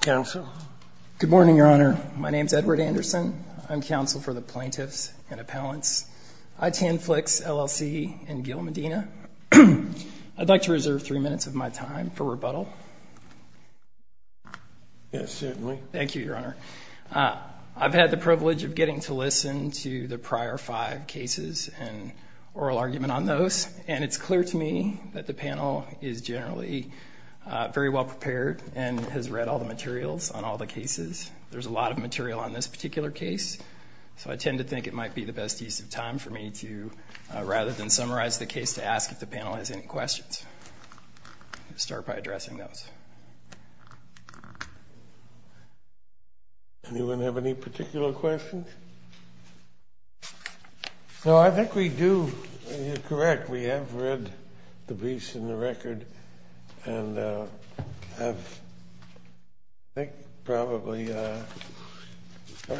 Good morning, Your Honor. My name is Edward Anderson. I'm counsel for the Plaintiffs and Appellants, ITN Flix, LLC, and Gil Medina. I'd like to reserve three minutes of my time for rebuttal. Yes, certainly. Thank you, Your Honor. I've had the privilege of getting to listen to the prior five cases and oral argument on those, and it's clear to me that the panel is generally very well prepared and has read all the materials on all the cases. There's a lot of material on this particular case, so I tend to think it might be the best use of time for me to, rather than summarize the case, to ask if the panel has any questions. Start by addressing those. Anyone have any particular questions? No, I think we do. You're correct. We have read the briefs and the record and have, I think, probably been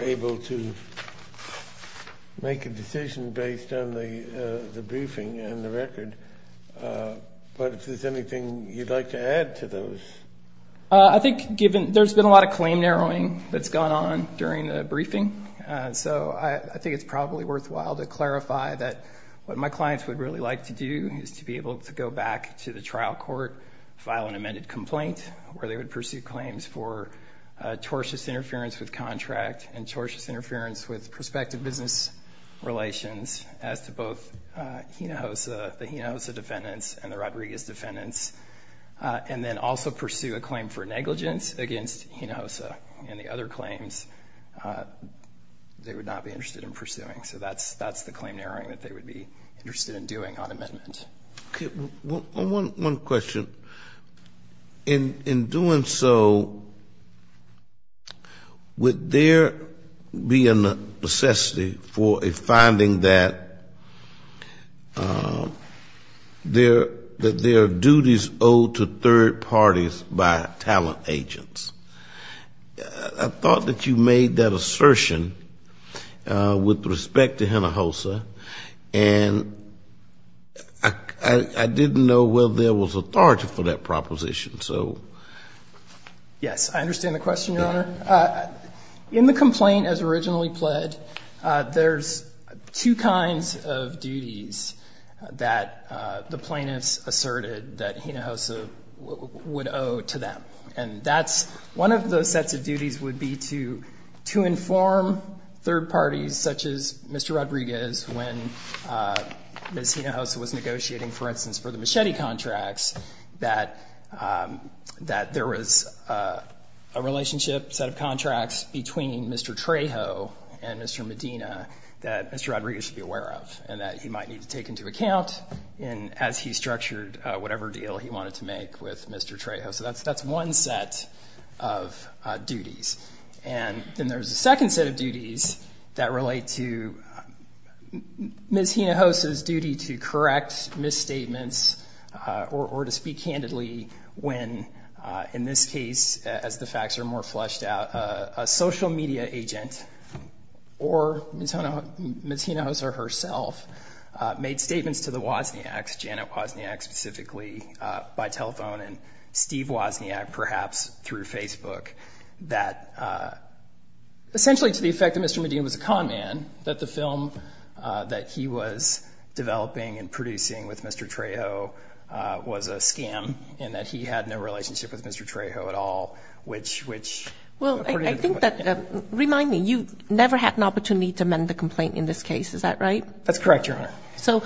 able to make a decision based on the briefing and the record. But if there's anything you'd like to add to those. I think there's been a lot of claim narrowing that's gone on during the briefing, so I think it's probably worthwhile to clarify that what my clients would really like to do is to be able to go back to the trial court, file an amended complaint, where they would pursue claims for tortious interference with contract and tortious interference with prospective business relations as to both the Hinojosa defendants and the Rodriguez defendants, and then also pursue a claim for negligence against Hinojosa and the other claims they would not be interested in pursuing. So that's the claim narrowing that they would be interested in doing on amendment. Okay. One question. In doing so, would there be a necessity for a finding that there are duties owed to third parties by talent agents? I thought that you made that assertion with respect to Hinojosa, and I didn't know whether there was authority for that proposition. Yes, I understand the question, Your Honor. In the complaint as originally pled, there's two kinds of duties that the plaintiffs asserted that Hinojosa would owe to them. One of those sets of duties would be to inform third parties, such as Mr. Rodriguez, when Ms. Hinojosa was negotiating, for instance, for the machete contracts, that there was a relationship set of contracts between Mr. Trejo and Mr. Medina that Mr. Rodriguez should be aware of and that he might need to take into account as he structured whatever deal he wanted to make with Mr. Trejo. So that's one set of duties. And then there's a second set of duties that relate to Ms. Hinojosa's duty to correct misstatements or to speak candidly when, in this case, as the facts are more fleshed out, a social media agent or Ms. Hinojosa herself made statements to the Wozniaks, Janet Wozniak specifically, by telephone. And Steve Wozniak, perhaps through Facebook, that essentially to the effect that Mr. Medina was a con man, that the film that he was developing and producing with Mr. Trejo was a scam and that he had no relationship with Mr. Trejo at all, which, which... Well, I think that, remind me, you never had an opportunity to amend the complaint in this case, is that right? That's correct, Your Honor. So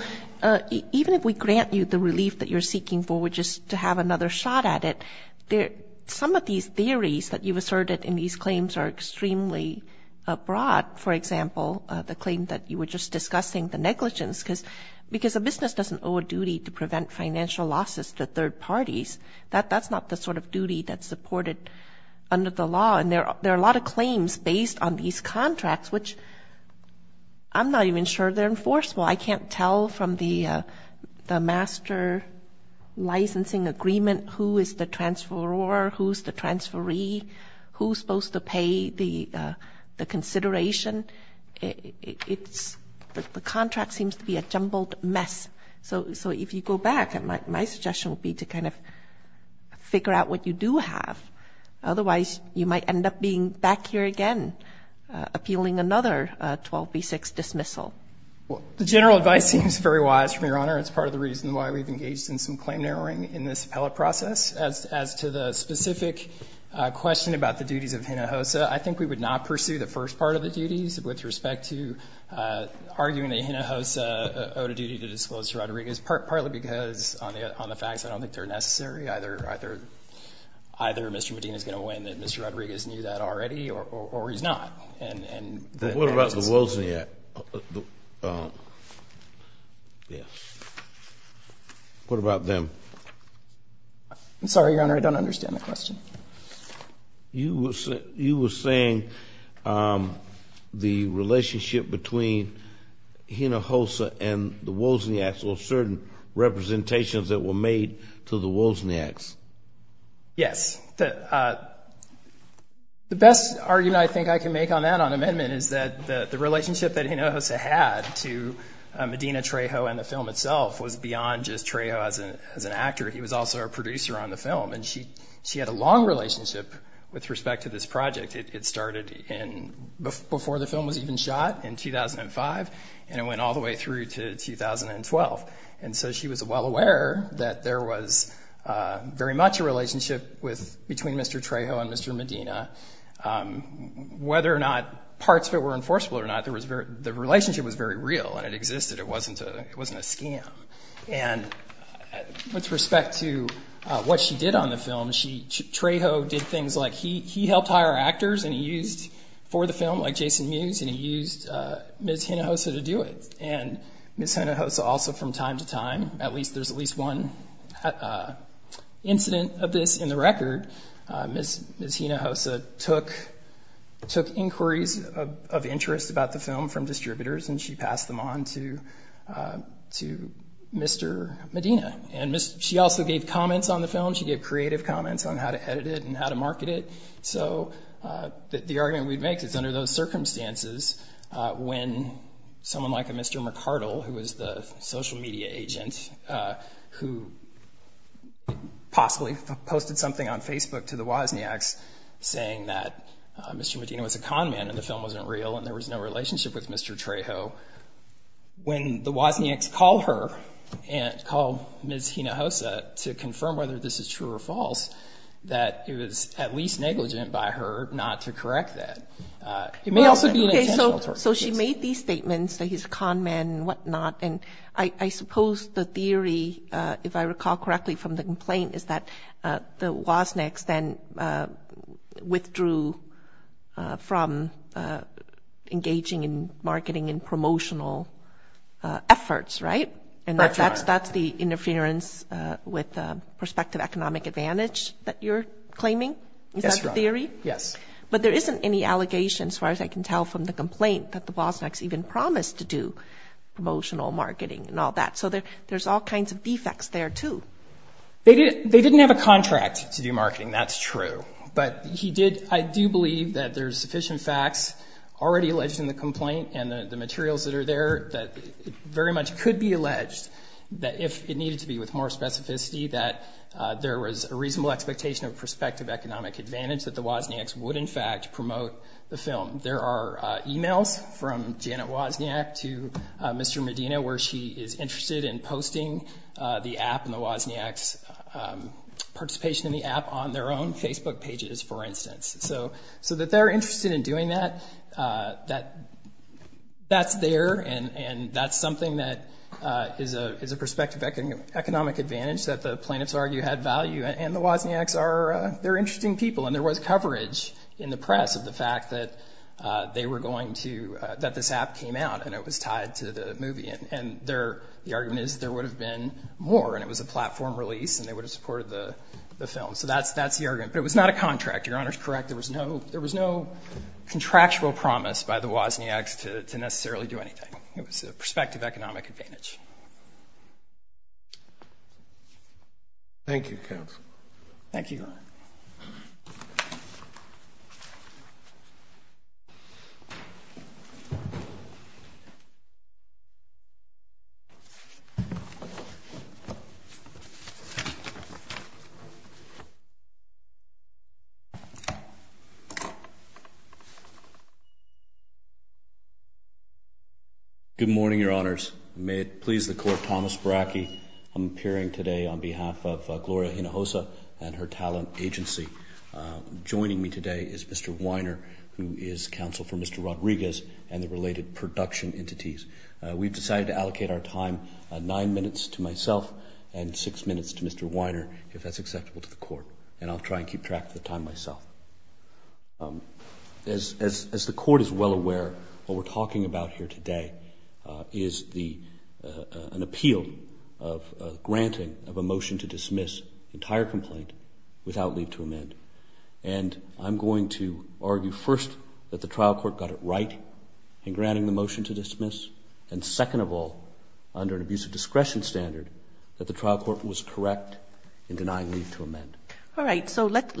even if we grant you the relief that you're seeking for, which is to have another shot at it, some of these theories that you've asserted in these claims are extremely broad. For example, the claim that you were just discussing, the negligence, because a business doesn't owe a duty to prevent financial losses to third parties. That's not the sort of duty that's supported under the law. And there are a lot of claims based on these contracts, which I'm not even sure they're enforceable. I can't tell from the master licensing agreement who is the transferor, who's the transferee, who's supposed to pay the consideration. It's, the contract seems to be a jumbled mess. So if you go back, my suggestion would be to kind of figure out what you do have. Otherwise, you might end up being back here again appealing another 12B6 dismissal. Well, the general advice seems very wise from Your Honor. It's part of the reason why we've engaged in some claim narrowing in this appellate process. As to the specific question about the duties of Hinojosa, I think we would not pursue the first part of the duties with respect to arguing that Hinojosa owed a duty to disclose to Rodriguez, partly because on the facts, I don't think they're necessary. Either Mr. Medina is going to win and Mr. Rodriguez knew that already, or he's not. What about the Wozniak? What about them? I'm sorry, Your Honor, I don't understand the question. You were saying the relationship between Hinojosa and the Wozniaks or certain representations that were made to the Wozniaks. Yes. The best argument I think I can make on that on amendment is that the relationship that Hinojosa had to Medina Trejo and the film itself was beyond just Trejo as an actor. He was also a producer on the film, and she had a long relationship with respect to this project. It started before the film was even shot in 2005, and it went all the way through to 2012. And so she was well aware that there was very much a relationship between Mr. Trejo and Mr. Medina. Whether or not parts of it were enforceable or not, the relationship was very real and it existed. It wasn't a scam. And with respect to what she did on the film, Trejo did things like he helped hire actors for the film, like Jason Mewes, and he used Ms. Hinojosa to do it. And Ms. Hinojosa also from time to time, at least there's at least one incident of this in the record, Ms. Hinojosa took inquiries of interest about the film from distributors and she passed them on to Mr. Medina. And she also gave comments on the film. She gave creative comments on how to edit it and how to market it. So the argument we'd make is under those circumstances, when someone like a Mr. McArdle, who was the social media agent, who possibly posted something on Facebook to the Wozniaks saying that Mr. Medina was a conman and the film wasn't real and there was no relationship with Mr. Trejo, when the Wozniaks call her and call Ms. Hinojosa to confirm whether this is true or false, that it was at least negligent by her not to correct that. It may also be an intentional torture case. So she made these statements that he's a conman and whatnot, and I suppose the theory, if I recall correctly from the complaint, is that the Wozniaks then withdrew from engaging in marketing and promotional efforts, right? That's right. Is that the theory? Yes. But there isn't any allegation, as far as I can tell from the complaint, that the Wozniaks even promised to do promotional marketing and all that. So there's all kinds of defects there, too. They didn't have a contract to do marketing. That's true. But I do believe that there's sufficient facts already alleged in the complaint and the materials that are there that very much could be alleged that if it needed to be with more specificity, that there was a reasonable expectation of prospective economic advantage, that the Wozniaks would, in fact, promote the film. There are e-mails from Janet Wozniak to Mr. Medina where she is interested in posting the app and the Wozniaks' participation in the app on their own Facebook pages, for instance. So that they're interested in doing that, that's there, and that's something that is a prospective economic advantage that the plaintiffs argue had value, and the Wozniaks are interesting people. And there was coverage in the press of the fact that this app came out, and it was tied to the movie. And the argument is there would have been more, and it was a platform release, and they would have supported the film. So that's the argument. But it was not a contract. Your Honor is correct. There was no contractual promise by the Wozniaks to necessarily do anything. It was a prospective economic advantage. Thank you, counsel. Thank you, Your Honor. Thank you. Good morning, Your Honors. May it please the Court, Thomas Baraki. I'm appearing today on behalf of Gloria Hinojosa and her talent agency. Joining me today is Mr. Weiner, who is counsel for Mr. Rodriguez and the related production entities. We've decided to allocate our time nine minutes to myself and six minutes to Mr. Weiner, if that's acceptable to the Court, and I'll try and keep track of the time myself. As the Court is well aware, what we're talking about here today is an appeal of granting of a motion to dismiss the entire complaint without leave to amend. And I'm going to argue first that the trial court got it right in granting the motion to dismiss, and second of all, under an abuse of discretion standard, that the trial court was correct in denying leave to amend. All right. So let's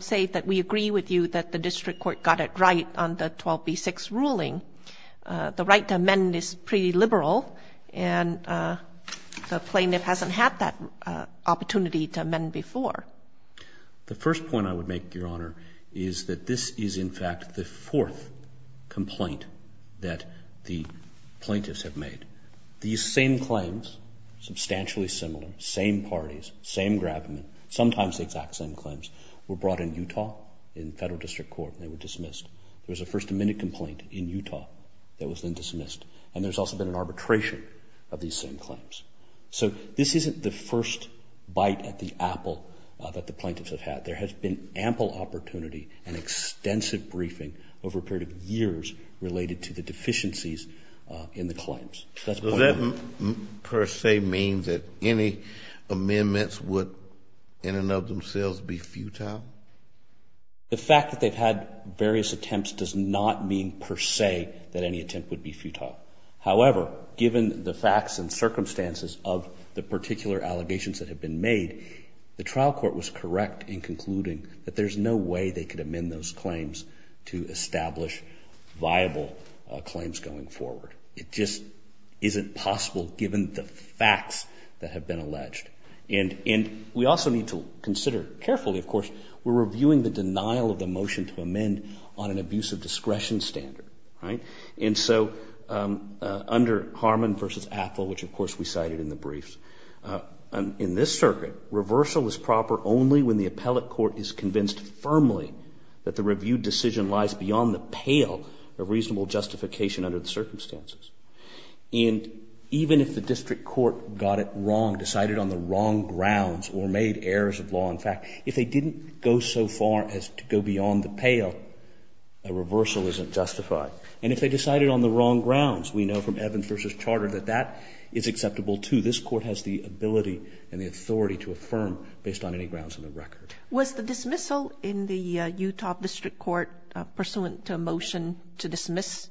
say that we agree with you that the district court got it right on the 12B6 ruling. The right to amend is pretty liberal, and the plaintiff hasn't had that opportunity to amend before. The first point I would make, Your Honor, is that this is, in fact, the fourth complaint that the plaintiffs have made. These same claims, substantially similar, same parties, same grabment, sometimes the exact same claims, were brought in Utah in federal district court, and they were dismissed. There was a first amendment complaint in Utah that was then dismissed, and there's also been an arbitration of these same claims. So this isn't the first bite at the apple that the plaintiffs have had. There has been ample opportunity and extensive briefing over a period of years related to the deficiencies in the claims. Does that per se mean that any amendments would in and of themselves be futile? The fact that they've had various attempts does not mean per se that any attempt would be futile. However, given the facts and circumstances of the particular allegations that have been made, the trial court was correct in concluding that there's no way they could amend those claims to establish viable claims going forward. It just isn't possible given the facts that have been alleged. And we also need to consider carefully, of course, we're reviewing the denial of the motion to amend on an abuse of discretion standard, right? And so under Harmon v. Athol, which, of course, we cited in the briefs, in this circuit, reversal is proper only when the appellate court is convinced firmly that the reviewed decision lies beyond the pale of reasonable justification under the circumstances. And even if the district court got it wrong, decided on the wrong grounds or made errors of law and fact, if they didn't go so far as to go beyond the pale, a reversal isn't justified. And if they decided on the wrong grounds, we know from Evans v. Charter that that is acceptable, too. This Court has the ability and the authority to affirm based on any grounds in the record. Was the dismissal in the Utah District Court pursuant to a motion to dismiss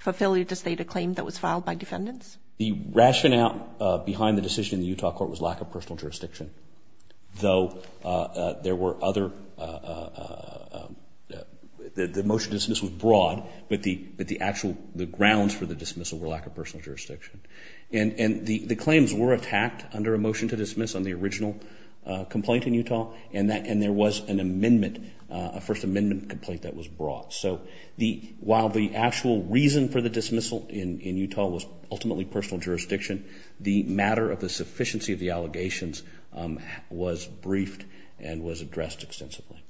for failure to state a claim that was filed by defendants? The rationale behind the decision in the Utah court was lack of personal jurisdiction, though there were other – the motion to dismiss was broad, but the actual grounds for the dismissal were lack of personal jurisdiction. And the claims were attacked under a motion to dismiss on the original complaint in Utah, and there was an amendment, a First Amendment complaint that was brought. So while the actual reason for the dismissal in Utah was ultimately personal jurisdiction, the matter of the sufficiency of the allegations was briefed and was addressed extensively.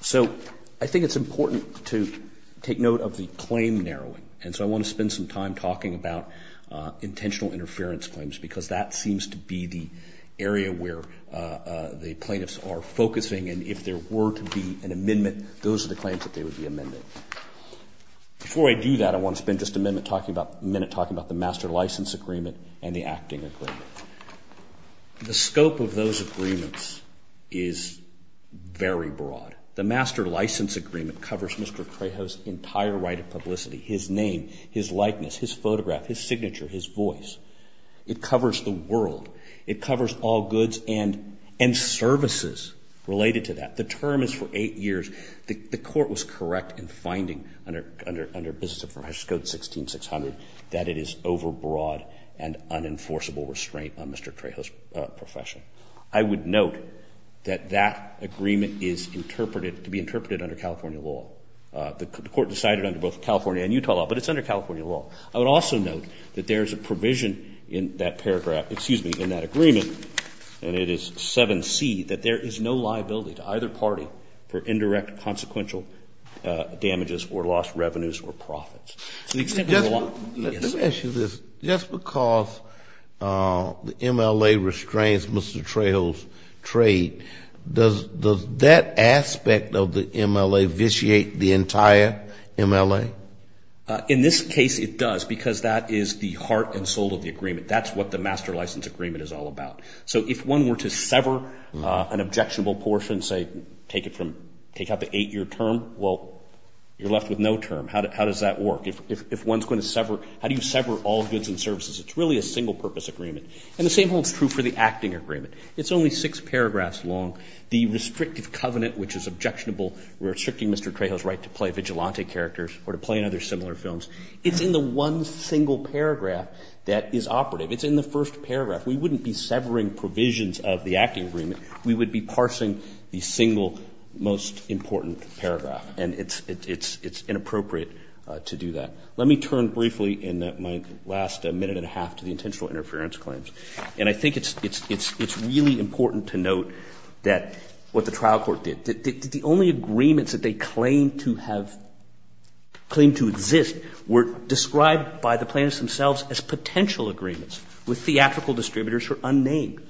So I think it's important to take note of the claim narrowing, and so I want to spend some time talking about intentional interference claims, because that seems to be the area where the plaintiffs are focusing, and if there were to be an amendment, those are the claims that they would be amending. Before I do that, I want to spend just a minute talking about the master license agreement and the acting agreement. The scope of those agreements is very broad. The master license agreement covers Mr. Craho's entire right of publicity, his name, his likeness, his photograph, his signature, his voice. It covers the world. It covers all goods and services related to that. The term is for eight years. The court was correct in finding under Business Affairs Code 16600 that it is over broad and unenforceable restraint on Mr. Craho's profession. I would note that that agreement is interpreted to be interpreted under California law. The court decided under both California and Utah law, but it's under California law. I would also note that there is a provision in that paragraph, excuse me, in that agreement, and it is 7C, that there is no liability to either party for indirect consequential damages or lost revenues or profits. Let me ask you this. Just because the MLA restrains Mr. Craho's trade, does that aspect of the MLA vitiate the entire MLA? In this case, it does, because that is the heart and soul of the agreement. That's what the master license agreement is all about. So if one were to sever an objectionable portion, say take out the eight-year term, well, you're left with no term. How does that work? If one's going to sever, how do you sever all goods and services? It's really a single-purpose agreement. And the same holds true for the acting agreement. It's only six paragraphs long. The restrictive covenant, which is objectionable, restricting Mr. Craho's right to play vigilante characters or to play in other similar films, it's in the one single paragraph that is operative. It's in the first paragraph. We wouldn't be severing provisions of the acting agreement. We would be parsing the single most important paragraph. And it's inappropriate to do that. Let me turn briefly in my last minute and a half to the intentional interference claims. And I think it's really important to note that what the trial court did, the only agreements that they claimed to have, claimed to exist were described by the plaintiffs themselves as potential agreements with theatrical distributors who are unnamed.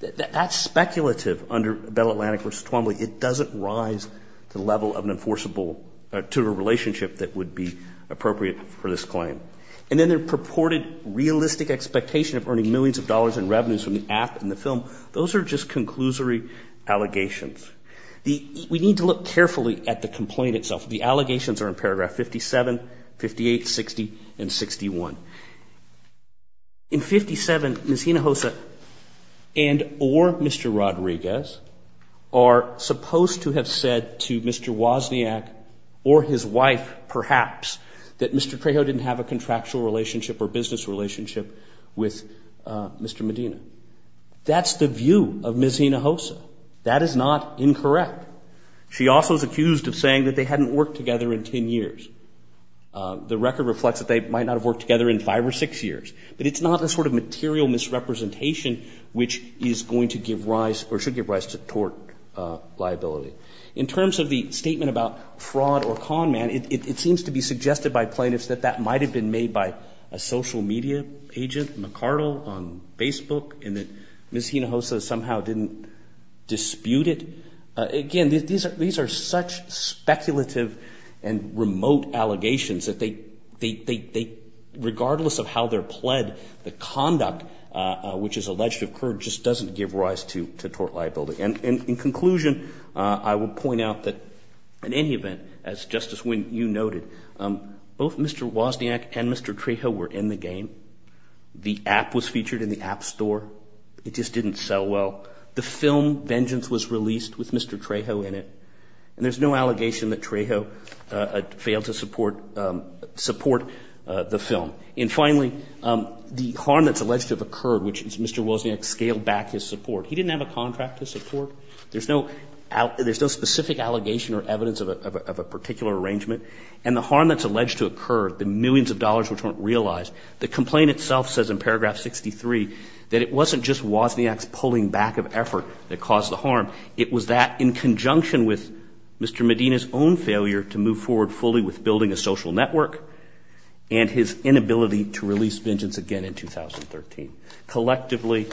That's speculative under Bell Atlantic v. Twombly. It doesn't rise to the level of an enforceable, to a relationship that would be appropriate for this claim. And then their purported realistic expectation of earning millions of dollars in revenues from the app and the film, those are just conclusory allegations. We need to look carefully at the complaint itself. The allegations are in paragraph 57, 58, 60, and 61. In 57, Ms. Hinojosa and or Mr. Rodriguez are supposed to have said to Mr. Wozniak or his wife, perhaps, that Mr. Trejo didn't have a contractual relationship or business relationship with Mr. Medina. That's the view of Ms. Hinojosa. That is not incorrect. She also is accused of saying that they hadn't worked together in ten years. The record reflects that they might not have worked together in five or six years. But it's not a sort of material misrepresentation which is going to give rise or should give rise to tort liability. In terms of the statement about fraud or con man, it seems to be suggested by plaintiffs that that might have been made by a social media agent, McCardle, on Facebook, and that Ms. Hinojosa somehow didn't dispute it. Again, these are such speculative and remote allegations that they, regardless of how they're pled, the conduct which is alleged to occur just doesn't give rise to tort liability. And in conclusion, I will point out that in any event, as Justice Wynne, you noted, both Mr. Wozniak and Mr. Trejo were in the game. The app was featured in the App Store. It just didn't sell well. The film, Vengeance, was released with Mr. Trejo in it. And there's no allegation that Trejo failed to support the film. And finally, the harm that's alleged to have occurred, which is Mr. Wozniak scaled back his support. He didn't have a contract to support. There's no specific allegation or evidence of a particular arrangement. And the harm that's alleged to occur, the millions of dollars which weren't realized, the complaint itself says in paragraph 63 that it wasn't just Wozniak's pulling back of effort that caused the harm. It was that in conjunction with Mr. Medina's own failure to move forward fully with building a social network and his inability to release Vengeance again in 2013. Collectively,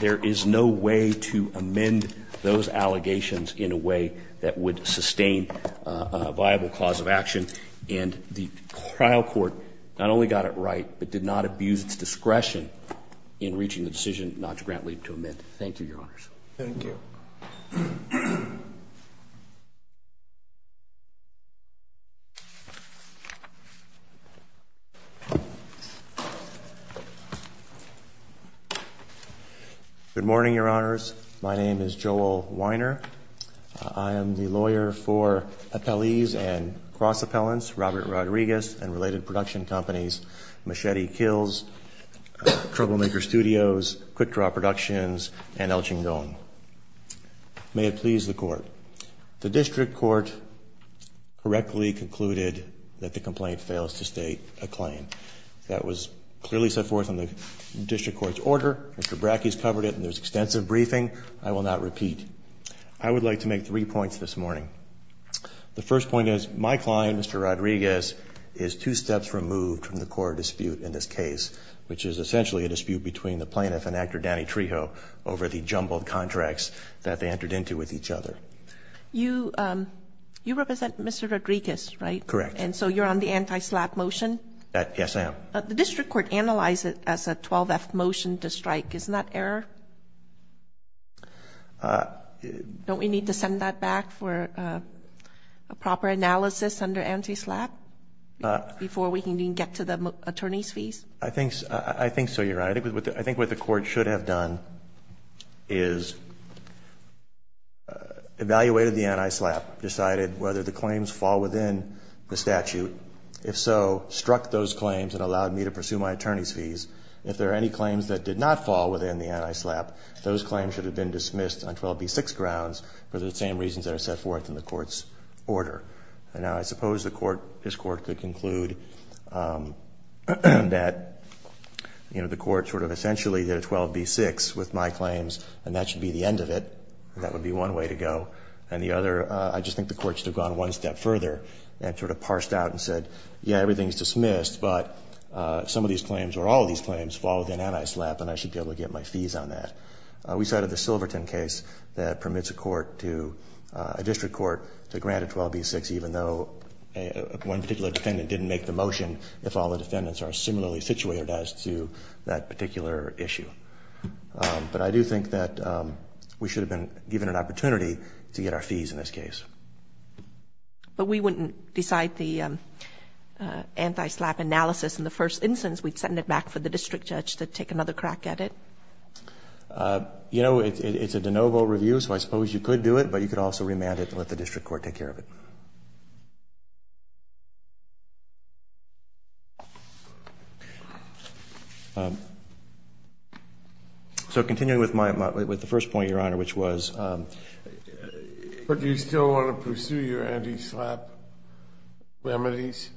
there is no way to amend those allegations in a way that would sustain a viable cause of action. And the trial court not only got it right, but did not abuse its discretion in reaching the decision not to grant leave to amend. Thank you, Your Honors. Thank you. Good morning, Your Honors. My name is Joel Weiner. I am the lawyer for appellees and cross appellants, Robert Rodriguez, and related production companies, Machete Kills, Troublemaker Studios, Quick Draw Productions, and El Chingon. May it please the Court. The district court correctly concluded that the complaint fails to state a claim. That was clearly set forth in the district court's order. Mr. Brackey's covered it in this extensive briefing. I will not repeat. I would like to make three points this morning. The first point is my client, Mr. Rodriguez, is two steps removed from the core dispute in this case, which is essentially a dispute between the plaintiff and actor Danny Trejo over the jumbled contracts that they entered into with each other. You represent Mr. Rodriguez, right? Correct. And so you're on the anti-SLAPP motion? Yes, I am. The district court analyzed it as a 12-F motion to strike. Isn't that error? Don't we need to send that back for a proper analysis under anti-SLAPP before we can even get to the attorney's fees? I think so, Your Honor. I think what the court should have done is evaluated the anti-SLAPP, decided whether the claims fall within the statute. If so, struck those claims and allowed me to pursue my attorney's fees. If there are any claims that did not fall within the anti-SLAPP, those claims should have been dismissed on 12b-6 grounds for the same reasons that are set forth in the court's order. And now I suppose the court, this court, could conclude that, you know, the court sort of essentially did a 12b-6 with my claims, and that should be the end of it. That would be one way to go. And the other, I just think the court should have gone one step further and sort of parsed out and said, yeah, everything is dismissed, but some of these claims or all of these claims fall within anti-SLAPP, and I should be able to get my fees on that. We cited the Silverton case that permits a court to, a district court to grant a 12b-6, even though one particular defendant didn't make the motion, if all the defendants are similarly situated as to that particular issue. But I do think that we should have been given an opportunity to get our fees in this case. But we wouldn't decide the anti-SLAPP analysis in the first instance. We'd send it back for the district judge to take another crack at it. You know, it's a de novo review, so I suppose you could do it, but you could also remand it and let the district court take care of it. So continuing with my, with the first point, Your Honor, which was. But do you still want to pursue your anti-SLAPP remedies?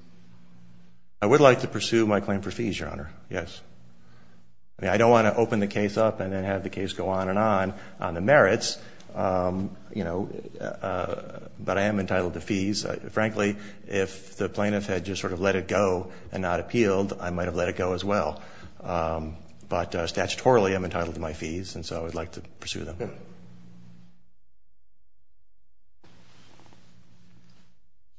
I would like to pursue my claim for fees, Your Honor, yes. I mean, I don't want to open the case up and then have the case go on and on, on the merits, you know, but I am entitled to fees. Frankly, if the plaintiff had just sort of let it go and not appealed, I might have let it go as well. But statutorily, I'm entitled to my fees, and so I would like to pursue them. Okay.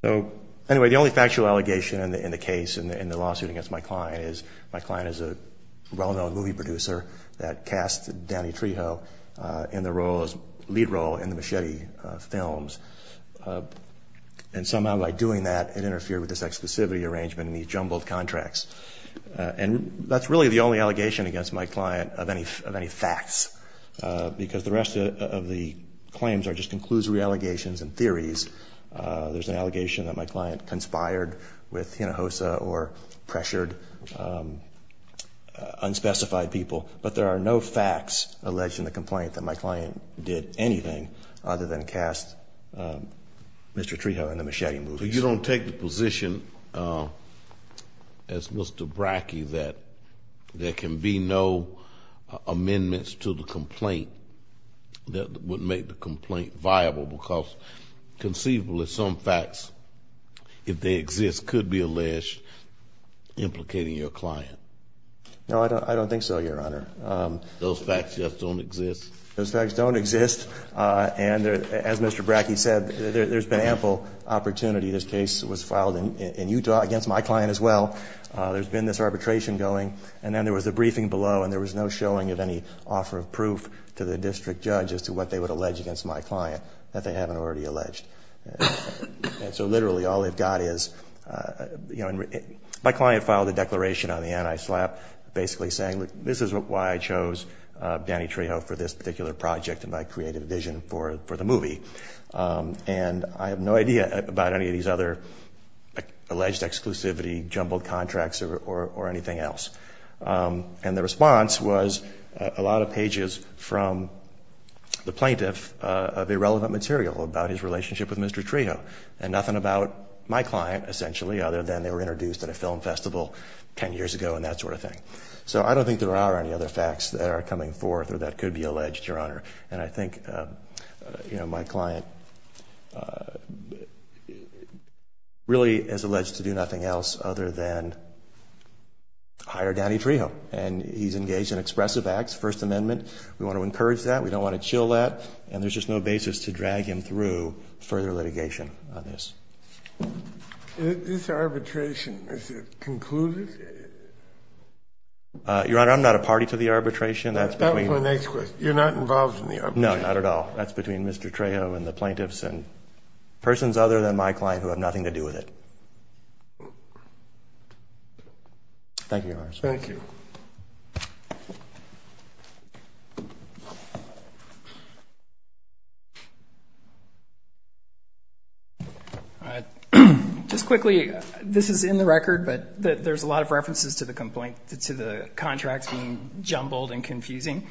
So anyway, the only factual allegation in the case, in the lawsuit against my client, is my client is a well-known movie producer that cast Danny Trejo in the lead role in the Machete films. And somehow by doing that, it interfered with his exclusivity arrangement and he jumbled contracts. And that's really the only allegation against my client of any facts, because the rest of the claims are just conclusory allegations and theories. There's an allegation that my client conspired with Hinojosa or pressured unspecified people, but there are no facts alleging the complaint that my client did anything other than cast Mr. Trejo in the Machete movies. So you don't take the position as Mr. Brackey that there can be no amendments to the complaint that would make the complaint viable, because conceivably some facts, if they exist, could be alleged implicating your client? No, I don't think so, Your Honor. Those facts just don't exist? Those facts don't exist. And as Mr. Brackey said, there's been ample opportunity. This case was filed in Utah against my client as well. There's been this arbitration going. And then there was a briefing below and there was no showing of any offer of proof to the district judge as to what they would allege against my client that they haven't already alleged. And so literally all they've got is, you know, my client filed a declaration on the anti-SLAPP basically saying, this is why I chose Danny Trejo for this particular project and my creative vision for the movie. And I have no idea about any of these other alleged exclusivity, jumbled contracts, or anything else. And the response was a lot of pages from the plaintiff of irrelevant material about his relationship with Mr. Trejo, and nothing about my client essentially other than they were introduced at a film festival 10 years ago and that sort of thing. So I don't think there are any other facts that are coming forth or that could be alleged, Your Honor. And I think, you know, my client really is alleged to do nothing else other than hire Danny Trejo. And he's engaged in expressive acts, First Amendment. We want to encourage that. We don't want to chill that. And there's just no basis to drag him through further litigation on this. This arbitration, is it concluded? Your Honor, I'm not a party to the arbitration. That was my next question. You're not involved in the arbitration? No, not at all. That's between Mr. Trejo and the plaintiffs and persons other than my client who have nothing to do with it. Thank you, Your Honor. Thank you. Just quickly, this is in the record, but there's a lot of references to the contract being jumbled and confusing.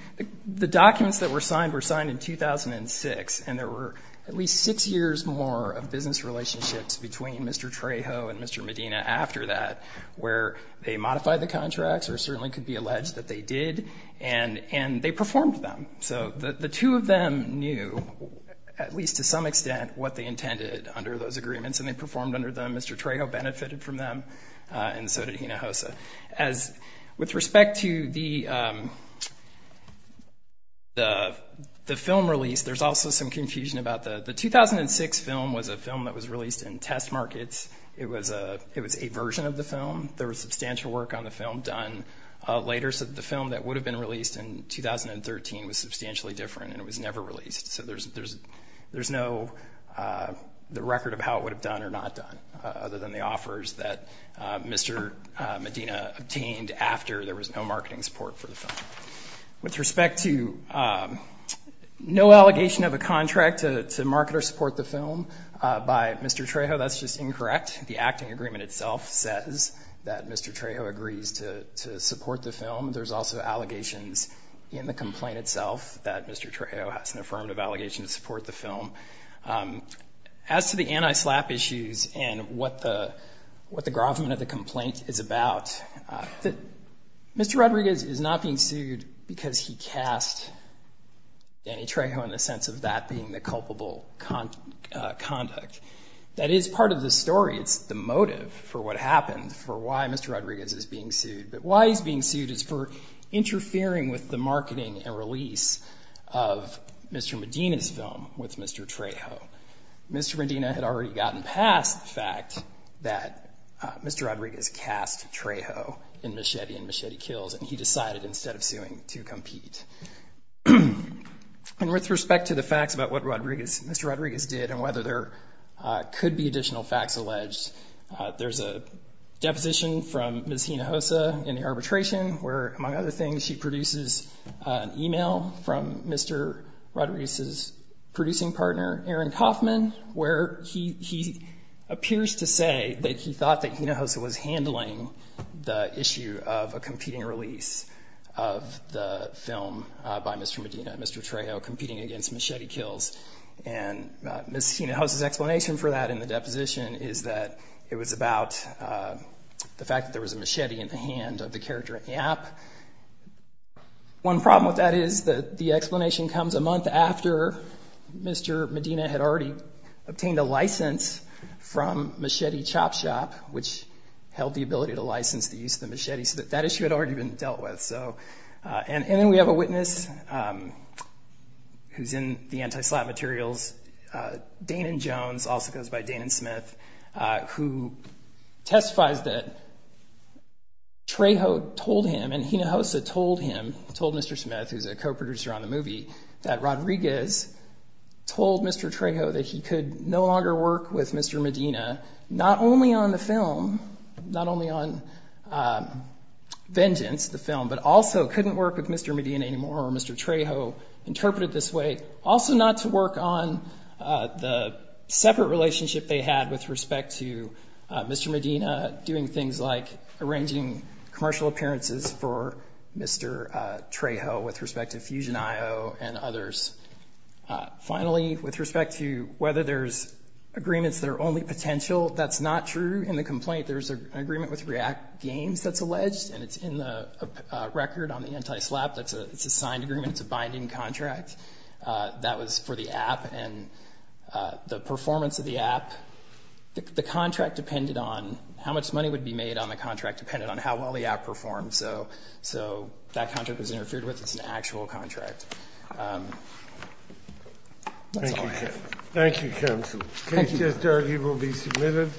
The documents that were signed were signed in 2006, and there were at least six years more of business relationships between Mr. Trejo and Mr. Medina after that where they modified the contracts or certainly could be alleged that they did, and they performed them. So the two of them knew, at least to some extent, what they intended under those agreements, and they performed under them. Mr. Trejo benefited from them, and so did Hinojosa. With respect to the film release, there's also some confusion about that. The 2006 film was a film that was released in test markets. It was a version of the film. There was substantial work on the film done later, so the film that would have been released in 2013 was substantially different, and it was never released. So there's no record of how it would have done or not done, other than the offers that Mr. Medina obtained after there was no marketing support for the film. With respect to no allegation of a contract to market or support the film by Mr. Trejo, that's just incorrect. The acting agreement itself says that Mr. Trejo agrees to support the film. There's also allegations in the complaint itself that Mr. Trejo has an affirmative allegation to support the film. As to the anti-SLAPP issues and what the gravamen of the complaint is about, Mr. Rodriguez is not being sued because he cast Danny Trejo in the sense of that being the culpable conduct. That is part of the story. It's the motive for what happened, for why Mr. Rodriguez is being sued. But why he's being sued is for interfering with the marketing and release of Mr. Medina's film with Mr. Trejo. Mr. Medina had already gotten past the fact that Mr. Rodriguez cast Trejo in Machete and Machete Kills, and he decided instead of suing to compete. With respect to the facts about what Mr. Rodriguez did and whether there could be additional facts alleged, there's a deposition from Ms. Hinojosa in the arbitration where, among other things, she produces an email from Mr. Rodriguez's producing partner, Aaron Kaufman, where he appears to say that he thought that Hinojosa was handling the issue of a competing release of the film by Mr. Medina and Mr. Trejo competing against Machete Kills. Ms. Hinojosa's explanation for that in the deposition is that it was about the fact that there was a machete in the hand of the character in the app. One problem with that is that the explanation comes a month after Mr. Medina had already obtained a license from Machete Chop Shop, which held the ability to license the use of the machete, so that issue had already been dealt with. And then we have a witness who's in the anti-slap materials, Danan Jones, also goes by Danan Smith, who testifies that Trejo told him and Hinojosa told him, told Mr. Smith, who's a co-producer on the movie, that Rodriguez told Mr. Trejo that he could no longer work with Mr. Medina not only on the film, not only on Vengeance, the film, but also couldn't work with Mr. Medina anymore, or Mr. Trejo interpreted it this way, also not to work on the separate relationship they had with respect to Mr. Medina doing things like arranging commercial appearances for Mr. Trejo with respect to Fusion IO and others. Finally, with respect to whether there's agreements that are only potential, that's not true in the complaint. There's an agreement with React Games that's alleged, and it's in the record on the anti-slap that it's a signed agreement, it's a binding contract. That was for the app, and the performance of the app, the contract depended on how much money would be made on the contract depended on how well the app performed, so that contract was interfered with. It's an actual contract. That's all I have. Thank you, counsel. Thank you. Case just argued will be submitted.